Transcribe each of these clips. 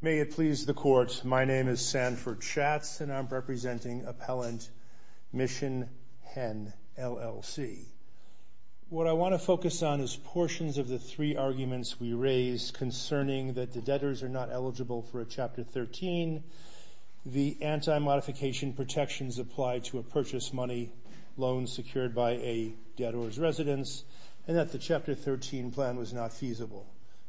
May it please the Court, my name is Sanford Schatz and I'm representing Appellant Mission Hen LLC. What I want to focus on is portions of the three arguments we raised concerning that for a Chapter 13, the anti-modification protections applied to a purchase money loan secured by a debtors residence, and that the Chapter 13 plan was not feasible.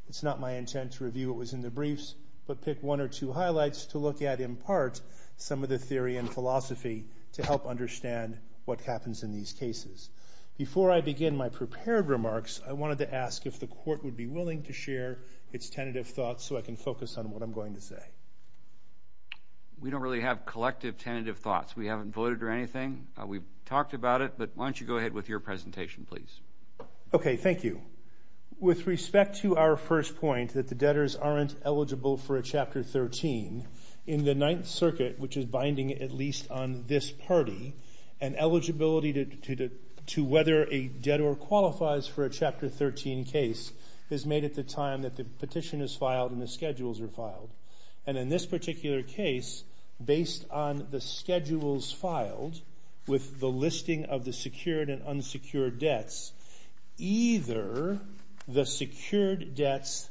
It's not my intent to review what was in the briefs, but pick one or two highlights to look at in part some of the theory and philosophy to help understand what happens in these cases. Before I begin my prepared remarks, I wanted to ask if the Court would be willing to share its tentative thoughts so I can focus on what I'm going to say. We don't really have collective tentative thoughts. We haven't voted or anything. We've talked about it, but why don't you go ahead with your presentation, please. Okay, thank you. With respect to our first point, that the debtors aren't eligible for a Chapter 13, in the Ninth Circuit, which is binding at least on this party, an eligibility to whether a debtor qualifies for a Chapter 13 case is made at the time that the petition is filed and the schedules are filed. And in this particular case, based on the schedules filed with the listing of the secured and unsecured debts, either the secured debts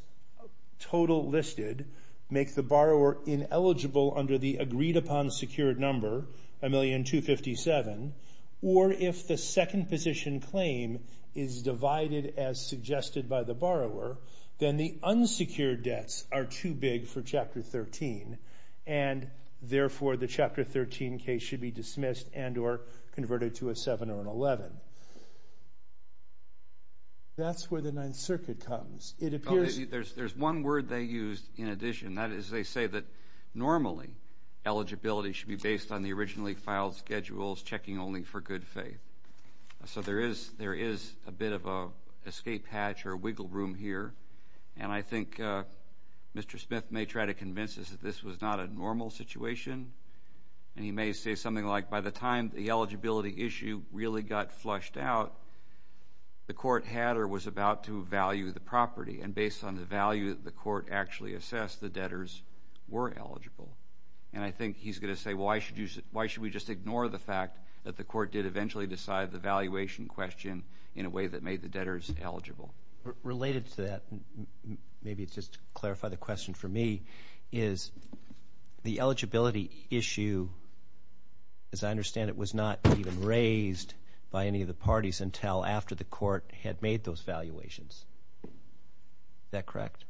total listed make the borrower ineligible under the agreed-upon secured number, $1,257,000, or if the second position claim is divided as suggested by the borrower, then the unsecured debts are too big for Chapter 13, and therefore the Chapter 13 case should be dismissed and or converted to a 7 or an 11. That's where the Ninth Circuit comes. There's one word they used in addition, and that is they say that normally eligibility should be based on the originally filed schedules, checking only for good faith. So there is a bit of an escape hatch or wiggle room here, and I think Mr. Smith may try to convince us that this was not a normal situation, and he may say something like, by the time the eligibility issue really got flushed out, the court had or was about to value the property, and based on the value that the court actually assessed, the debtors were eligible. And I think he's going to say, why should we just ignore the fact that the court did eventually decide the valuation question in a way that made the debtors eligible? Related to that, maybe just to clarify the question for me, is the eligibility issue, as I understand it, was not even raised by any of the parties until after the court had made those valuations. Is that correct?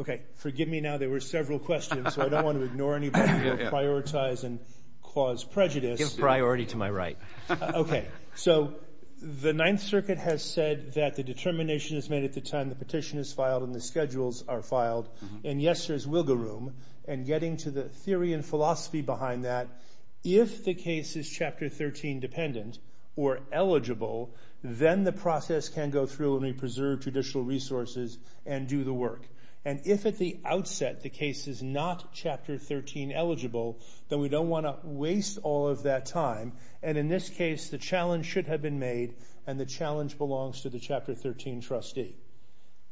Okay, forgive me now. There were several questions, so I don't want to ignore anybody who will prioritize and cause prejudice. Give priority to my right. Okay, so the Ninth Circuit has said that the determination is made at the time the petition is filed and the schedules are filed, and yes, there's wiggle room, and getting to the theory and philosophy behind that, if the case is Chapter 13 dependent or eligible, then the process can go through and we preserve judicial resources and do the work. And if at the outset the case is not Chapter 13 eligible, then we don't want to waste all of that time, and in this case, the challenge should have been made, and the challenge belongs to the Chapter 13 trustee.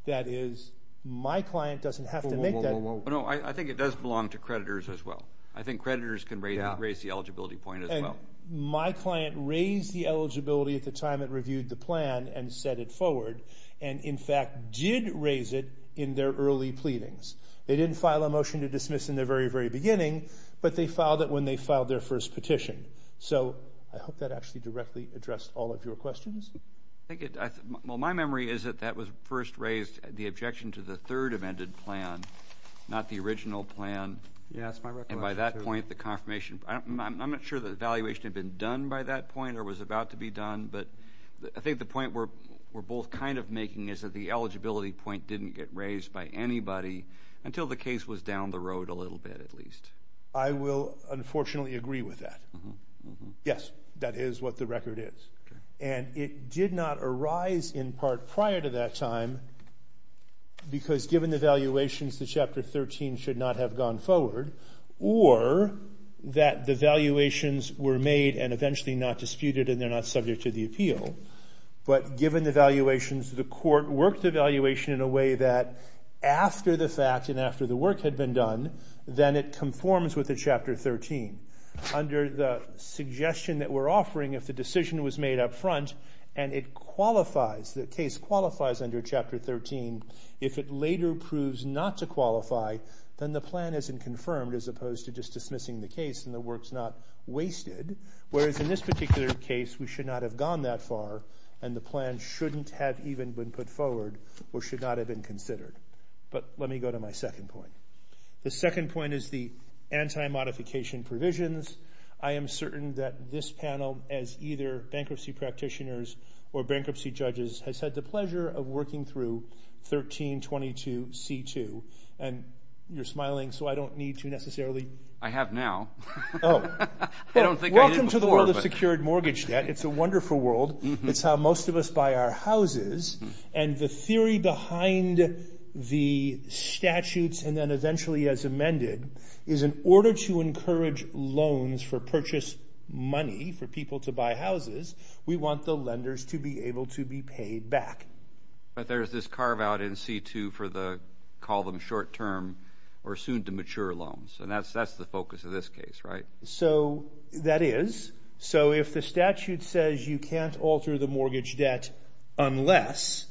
That is, my client doesn't have to make that. No, I think it does belong to creditors as well. I think creditors can raise the eligibility point as well. My client raised the eligibility at the time it reviewed the plan and set it forward, and in fact, did raise it in their early pleadings. They didn't file a motion to dismiss in the very, very beginning, but they filed it when they filed their first petition. So I hope that actually directly addressed all of your questions. Well, my memory is that that was first raised, the objection to the third amended plan, not the original plan. Yeah, that's my recollection, too. And by that point, the confirmation, I'm not sure the evaluation had been done by that point or was about to be done, but I think the point we're both kind of making is that the eligibility point didn't get raised by anybody until the case was down the road a little bit, at least. I will unfortunately agree with that. Yes, that is what the record is. And it did not arise in part prior to that time, because given the valuations, the Chapter 13 should not have gone forward, or that the valuations were made and eventually not disputed and they're not subject to the appeal. But given the valuations, the court worked the valuation in a way that after the fact and after the work had been done, then it conforms with the Chapter 13. Under the suggestion that we're offering, if the decision was made up front and it qualifies, the case qualifies under Chapter 13, if it later proves not to qualify, then the plan isn't confirmed as opposed to just dismissing the case and the work's not wasted. Whereas in this particular case, we should not have gone that far and the plan shouldn't have even been put forward or should not have been considered. But let me go to my second point. The second point is the anti-modification provisions. I am certain that this panel, as either bankruptcy practitioners or bankruptcy judges, has had the pleasure of working through 1322C2. And you're smiling, so I don't need to necessarily... I have now. Oh. I don't think I did before. Welcome to the world of secured mortgage debt. It's a wonderful world. It's how most of us buy our houses. And the theory behind the statutes and then eventually as amended is in order to encourage loans for purchase money for people to buy houses, we want the lenders to be able to be paid back. But there's this carve-out in C2 for the, call them short-term or soon-to-mature loans. And that's the focus of this case, right? So that is. So if the statute says you can't alter the mortgage debt unless,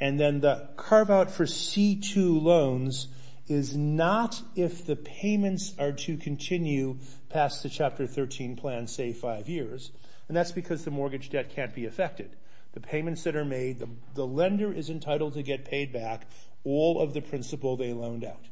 and then the carve-out for C2 loans is not if the payments are to continue past the Chapter 13 plan, say five years. And that's because the mortgage debt can't be affected. The payments that are made, the lender is entitled to get paid back all of the principal they loaned out.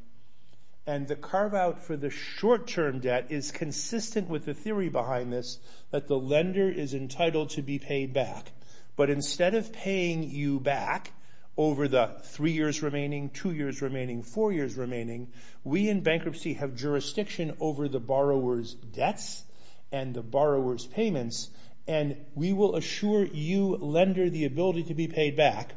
And the carve-out for the short-term debt is consistent with the theory behind this that the lender is entitled to be paid back. But instead of paying you back over the three years remaining, two years remaining, four years remaining, we in bankruptcy have jurisdiction over the borrower's debts and the borrower's payments. And we will assure you lender the ability to be paid back.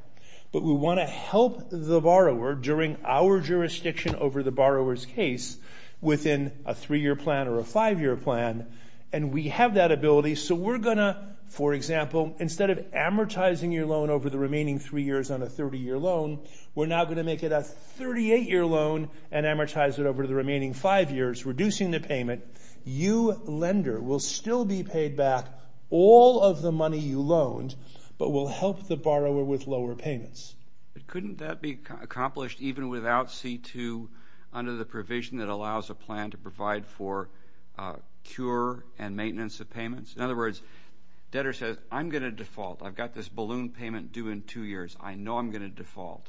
But we want to help the borrower during our jurisdiction over the borrower's case within a three-year plan or a five-year plan. And we have that ability. So we're going to, for example, instead of amortizing your loan over the remaining three years on a 30-year loan, we're now going to make it a 38-year loan and amortize it over the remaining five years, reducing the payment. You lender will still be paid back all of the money you loaned, but we'll help the borrower with lower payments. But couldn't that be accomplished even without C-2 under the provision that allows a plan to provide for cure and maintenance of payments? In other words, debtor says, I'm going to default. I've got this balloon payment due in two years. I know I'm going to default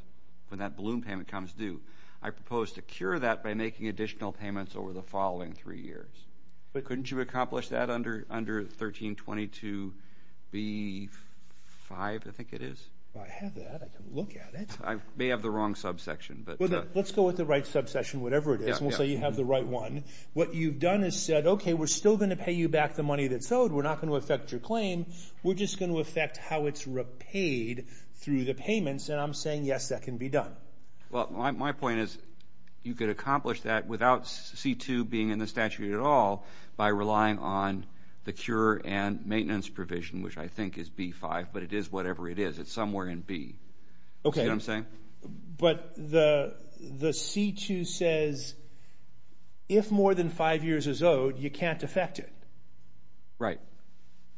when that balloon payment comes due. I propose to cure that by making additional payments over the following three years. But couldn't you accomplish that under 1322b-5, I think it is? I have that. I can look at it. I may have the wrong subsection, but... Let's go with the right subsection, whatever it is, and we'll say you have the right one. What you've done is said, okay, we're still going to pay you back the money that's owed. We're not going to affect your claim. We're just going to affect how it's repaid through the payments, and I'm saying, yes, that can be done. Well, my point is you could accomplish that without C-2 being in the statute at all by relying on the cure and maintenance provision, which I think is B-5, but it is whatever it is. It's somewhere in B. Okay. See what I'm saying? But the C-2 says if more than five years is owed, you can't affect it. Right.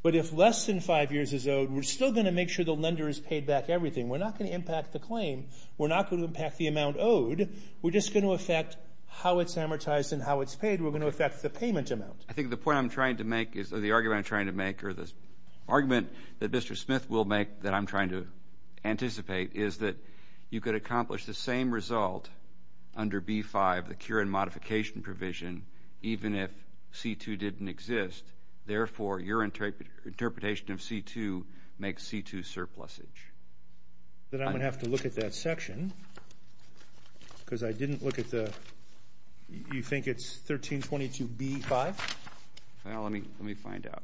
But if less than five years is owed, we're still going to make sure the lender is paid back everything. We're not going to impact the claim. We're not going to impact the amount owed. We're just going to affect how it's amortized and how it's paid. We're going to affect the payment amount. I think the point I'm trying to make is, or the argument I'm trying to make, or the argument that Mr. Smith will make that I'm trying to anticipate is that you could accomplish the same result under B-5, the cure and modification provision, even if C-2 didn't exist. Therefore, your interpretation of C-2 makes C-2 surplusage. Then I'm going to have to look at that section because I didn't look at the, you think it's 1322B-5? Well, let me find out.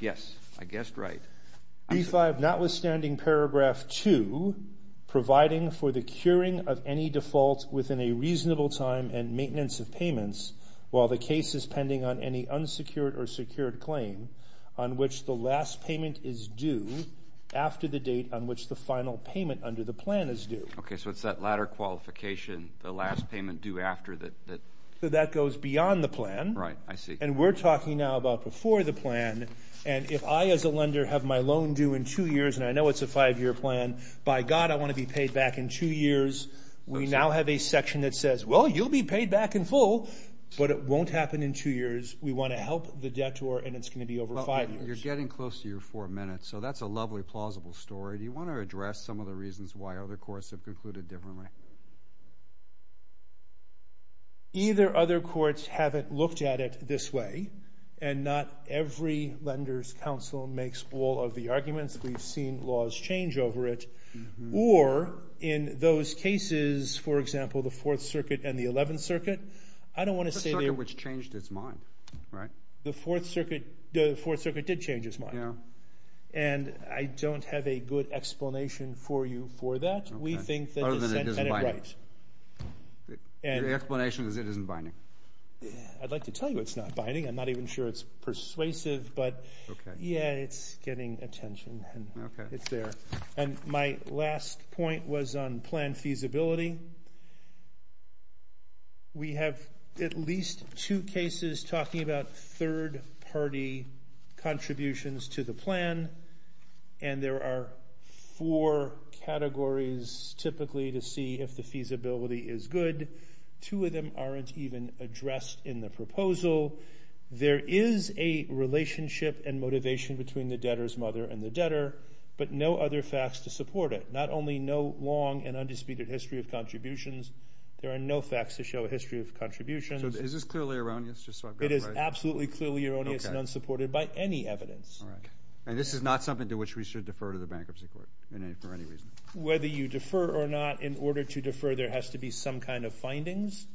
Yes. I guessed right. B-5, notwithstanding paragraph two, providing for the curing of any default within a reasonable time and maintenance of payments while the case is pending on any unsecured or secured claim on which the last payment is due after the date on which the final payment under the plan is due. Okay, so it's that latter qualification, the last payment due after that. So that goes beyond the plan. Right, I see. And we're talking now about before the plan, and if I as a lender have my loan due in two years, and I know it's a five-year plan, by God, I want to be paid back in two years. We now have a section that says, well, you'll be paid back in full, but it won't happen in two years. We want to help the debtor, and it's going to be over five years. You're getting close to your four minutes, so that's a lovely, plausible story. Do you want to address some of the reasons why other courts have concluded differently? Either other courts haven't looked at it this way, and not every lender's counsel makes all of the arguments. We've seen laws change over it. Or in those cases, for example, the Fourth Circuit and the Eleventh Circuit, I don't want to say they're— The Fourth Circuit, which changed its mind, right? The Fourth Circuit did change its mind. And I don't have a good explanation for you for that. We think that— Other than it isn't binding. The explanation is it isn't binding. I'd like to tell you it's not binding. I'm not even sure it's persuasive, but yeah, it's getting attention, and it's there. And my last point was on plan feasibility. We have at least two cases talking about third-party contributions to the plan, and there are four categories, typically, to see if the feasibility is good. Two of them aren't even addressed in the proposal. There is a relationship and motivation between the debtor's mother and the debtor, but no other facts to support it. Not only no long and undisputed history of contributions, there are no facts to show a history of contributions. So is this clearly erroneous, just so I've got it right? It is absolutely clearly erroneous and unsupported by any evidence. All right. And this is not something to which we should defer to the Bankruptcy Court for any reason? Whether you defer or not, in order to defer, there has to be some kind of findings,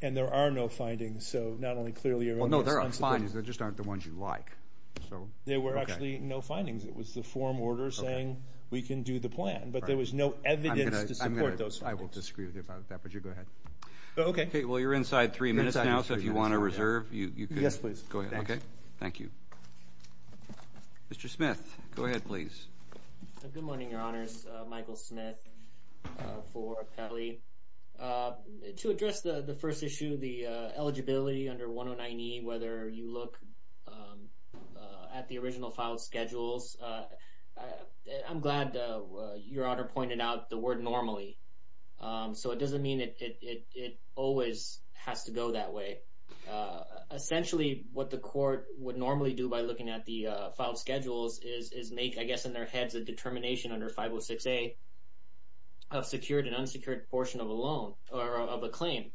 and there are no findings. So not only clearly erroneous— Well, no, there are findings. There just aren't the ones you like. There were actually no findings. It was the form order saying we can do the plan, but there was no evidence to support those findings. I will disagree with you about that, but you go ahead. Okay. Okay, well, you're inside three minutes now, so if you want to reserve, you can. Yes, please. Go ahead. Okay. Thank you. Mr. Smith, go ahead, please. Good morning, Your Honors. Michael Smith for Pelley. To address the first issue, the eligibility under 109E, whether you look at the original file schedules, I'm glad Your Honor pointed out the word normally. So it doesn't mean it always has to go that way. Essentially, what the court would normally do by looking at the file schedules is make, I guess in their heads, a determination under 506A of secured and unsecured portion of a loan or of a claim.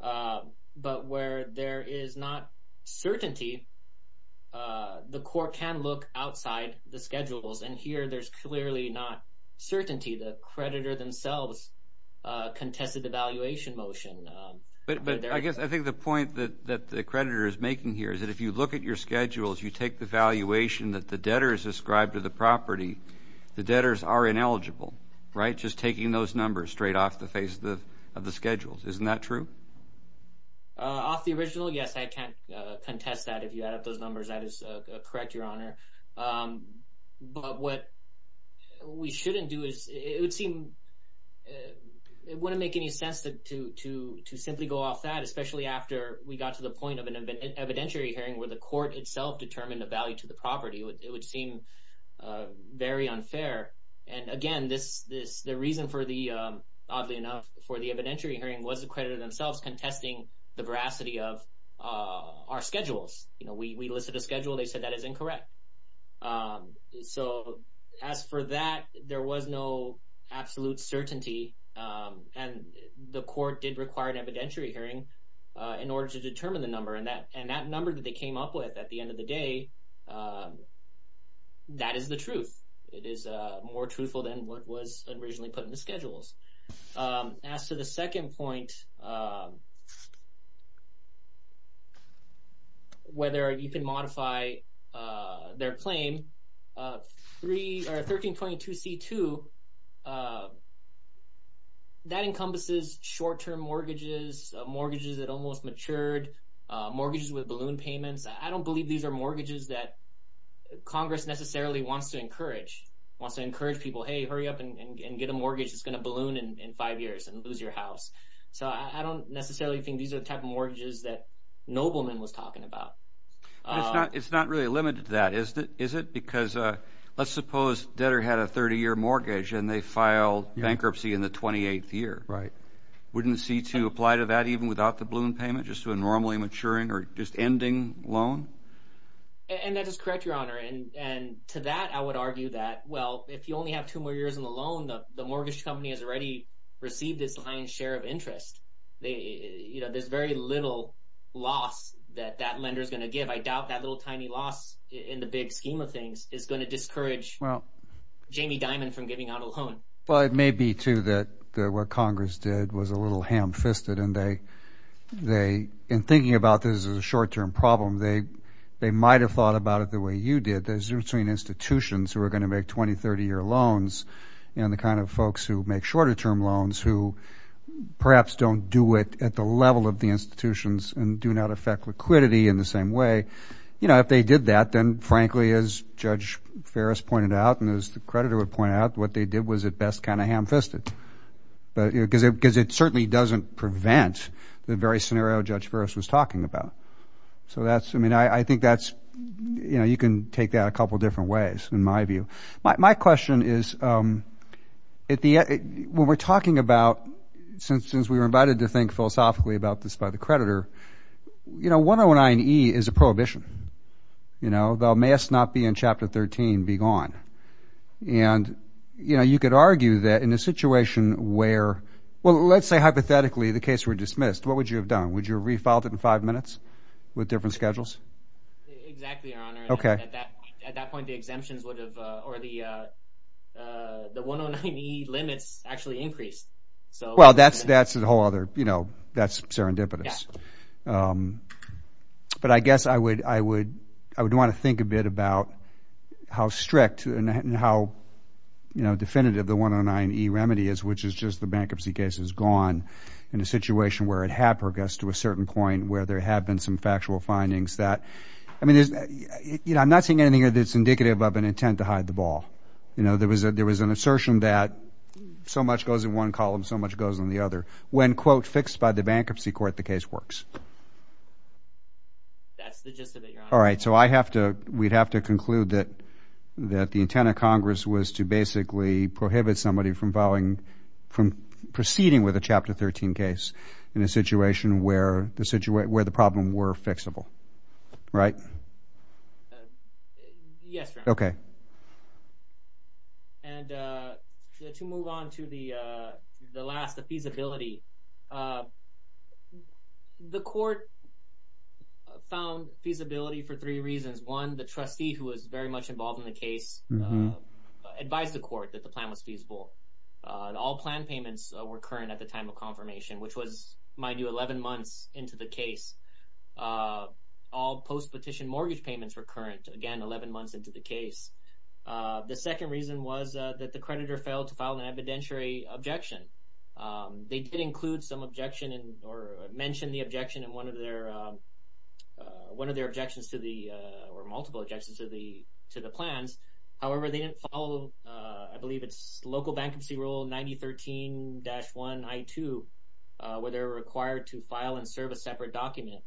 But where there is not certainty, the court can look outside the schedules, and here there's clearly not certainty. The creditor themselves contested the valuation motion. But I guess I think the point that the creditor is making here is that if you look at your schedules, you take the valuation that the debtor has ascribed to the property, the debtors are ineligible, right? Just taking those numbers straight off the face of the schedules. Isn't that true? Off the original? Yes, I can't contest that. If you add up those numbers, that is correct, Your Honor. But what we shouldn't do is, it would seem, it wouldn't make any sense to simply go off that, especially after we got to the point of an evidentiary hearing where the court itself determined the value to the property. It would seem very unfair. And again, the reason for the, oddly enough, for the evidentiary hearing was the creditor themselves contesting the veracity of our schedules. You know, we listed a schedule, they said that is incorrect. So as for that, there was no absolute certainty and the court did require an evidentiary hearing in order to determine the number. And that number that they came up with at the end of the day, that is the truth. It is more truthful than what was originally put in the schedules. As to the second point, whether you can modify their claim, 1322C2, that encompasses short-term mortgages, mortgages that almost matured, mortgages with balloon payments. I don't believe these are mortgages that Congress necessarily wants to encourage, wants to encourage people, hey, hurry up and get a mortgage that's going to balloon in five years and lose your house. So I don't necessarily think these are the type of mortgages that Nobleman was talking about. But it's not really limited to that, is it? Because let's suppose debtor had a 30-year mortgage and they filed bankruptcy in the 28th year. Right. Wouldn't C2 apply to that even without the balloon payment, just to a normally maturing or just ending loan? And that is correct, Your Honor. And to that, I would argue that, well, if you only have two more years on the loan, the mortgage company has already received its lion's share of interest. There's very little loss that that lender is going to give. I doubt that little tiny loss in the big scheme of things is going to discourage Jamie Dimon from giving out a loan. Well, it may be, too, that what Congress did was a little ham-fisted. In thinking about this as a short-term problem, they might have thought about it the way you institutions who are going to make 20-, 30-year loans and the kind of folks who make shorter-term loans who perhaps don't do it at the level of the institutions and do not affect liquidity in the same way. You know, if they did that, then, frankly, as Judge Ferris pointed out and as the creditor would point out, what they did was at best kind of ham-fisted because it certainly doesn't prevent the very scenario Judge Ferris was talking about. So that's, I mean, I think that's, you know, you can take that a couple of different ways in my view. My question is, when we're talking about, since we were invited to think philosophically about this by the creditor, you know, 109E is a prohibition, you know, thou mayest not be in Chapter 13 be gone. And you know, you could argue that in a situation where, well, let's say hypothetically the case were dismissed, what would you have done? Would you have refiled it in five minutes with different schedules? Exactly, Your Honor. Okay. At that point, the exemptions would have, or the 109E limits actually increased. Well, that's a whole other, you know, that's serendipitous. But I guess I would want to think a bit about how strict and how, you know, definitive the 109E remedy is, which is just the bankruptcy case is gone in a situation where it had progressed to a certain point where there had been some factual findings that, I mean, you know, I'm not saying anything that's indicative of an intent to hide the ball. You know, there was an assertion that so much goes in one column, so much goes in the other. When quote, fixed by the bankruptcy court, the case works. That's the gist of it, Your Honor. All right. So I have to, we'd have to conclude that the intent of Congress was to basically prohibit somebody from filing, from proceeding with a Chapter 13 case in a situation where the problem were fixable, right? Yes, Your Honor. Okay. And to move on to the last, the feasibility, the court found feasibility for three reasons. One, the trustee who was very much involved in the case advised the court that the plan was feasible. All plan payments were current at the time of confirmation, which was, mind you, 11 months into the case. All post-petition mortgage payments were current, again, 11 months into the case. The second reason was that the creditor failed to file an evidentiary objection. They did include some objection or mentioned the objection in one of their, one of their objections to the, or multiple objections to the plans, however, they didn't follow, I believe it's local bankruptcy rule 9013-1I2, where they're required to file and serve a separate document,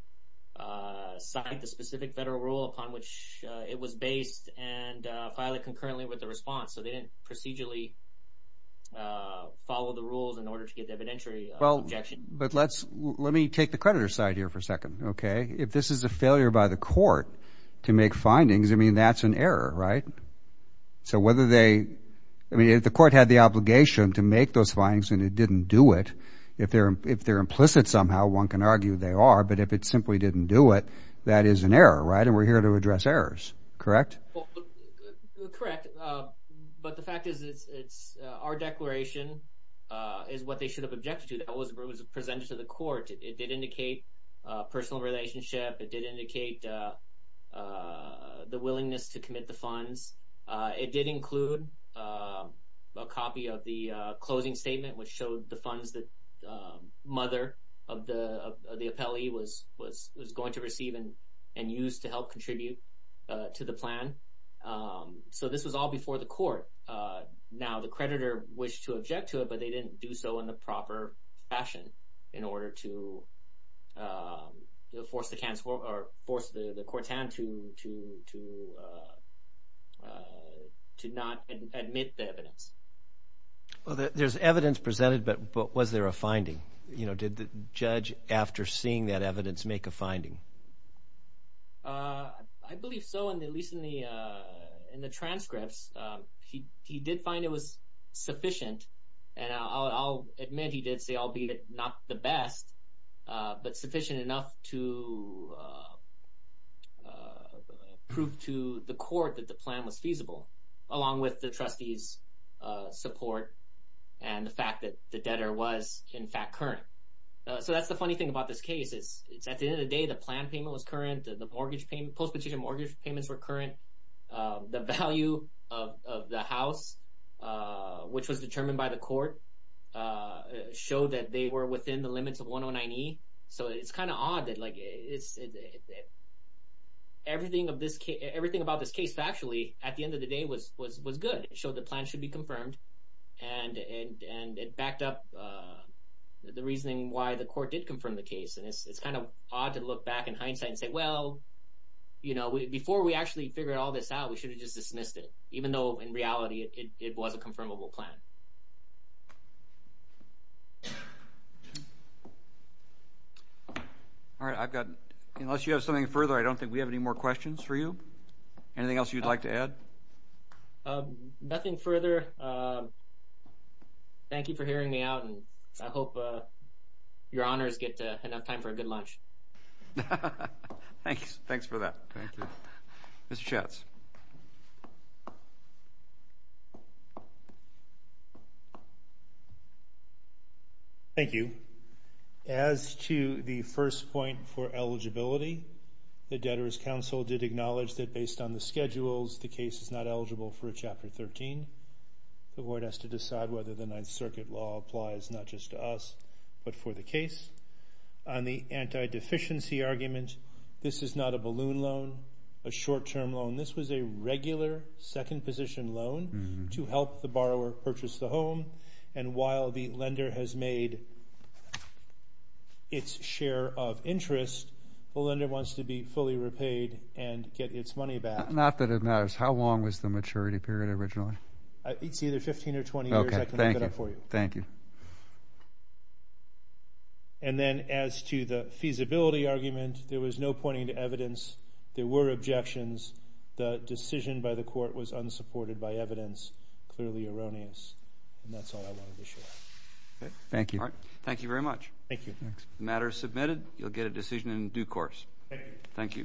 sign the specific federal rule upon which it was based and file it concurrently with the response. So they didn't procedurally follow the rules in order to get the evidentiary objection. But let's, let me take the creditor side here for a second, okay? If this is a failure by the court to make findings, I mean, that's an error, right? So whether they, I mean, if the court had the obligation to make those findings and it didn't do it, if they're, if they're implicit somehow, one can argue they are, but if it simply didn't do it, that is an error, right? And we're here to address errors, correct? Correct. But the fact is, it's, it's, our declaration is what they should have objected to. That was, it was presented to the court. It did indicate a personal relationship. It did indicate the willingness to commit the funds. It did include a copy of the closing statement, which showed the funds that mother of the appellee was, was, was going to receive and, and use to help contribute to the plan. So this was all before the court. Now the creditor wished to object to it, but they didn't do so in the proper fashion in order to force the court to, to, to, to not admit the evidence. Well, there's evidence presented, but, but was there a finding, you know, did the judge after seeing that evidence make a finding? I believe so in the, at least in the, in the transcripts, he, he did find it was sufficient and I'll admit he did say I'll be not the best, but sufficient enough to prove to the court that the plan was feasible along with the trustee's support and the fact that the debtor was in fact current. So that's the funny thing about this case is it's at the end of the day, the plan payment was current, the mortgage payment, post-petition mortgage payments were current, the value of the house, which was determined by the court, showed that they were within the limits of 109E. So it's kind of odd that like it's, everything of this case, everything about this case factually at the end of the day was, was, was good. It showed the plan should be confirmed and, and, and it backed up the reasoning why the court did confirm the case. And it's, it's kind of odd to look back in hindsight and say, well, you know, before we actually figured all this out, we should have just dismissed it. Even though in reality it was a confirmable plan. All right, I've got, unless you have something further, I don't think we have any more questions for you. Anything else you'd like to add? Nothing further. Thank you for hearing me out and I hope your honors get enough time for a good lunch. Thanks. Thanks for that. Thank you. Mr. Schatz. Thank you. As to the first point for eligibility, the Debtors' Council did acknowledge that based on the schedules, the case is not eligible for a Chapter 13. The board has to decide whether the Ninth Circuit law applies not just to us, but for the case. On the anti-deficiency argument, this is not a balloon loan, a short-term loan. This was a regular second position loan to help the borrower purchase the home. And while the lender has made its share of interest, the lender wants to be fully repaid and get its money back. Not that it matters. How long was the maturity period originally? It's either 15 or 20 years. Okay. Thank you. Thank you. Thank you. And then, as to the feasibility argument, there was no pointing to evidence. There were objections. The decision by the court was unsupported by evidence, clearly erroneous. And that's all I wanted to share. Thank you. All right. Thank you very much. Thank you. The matter is submitted. You'll get a decision in due course. Thank you.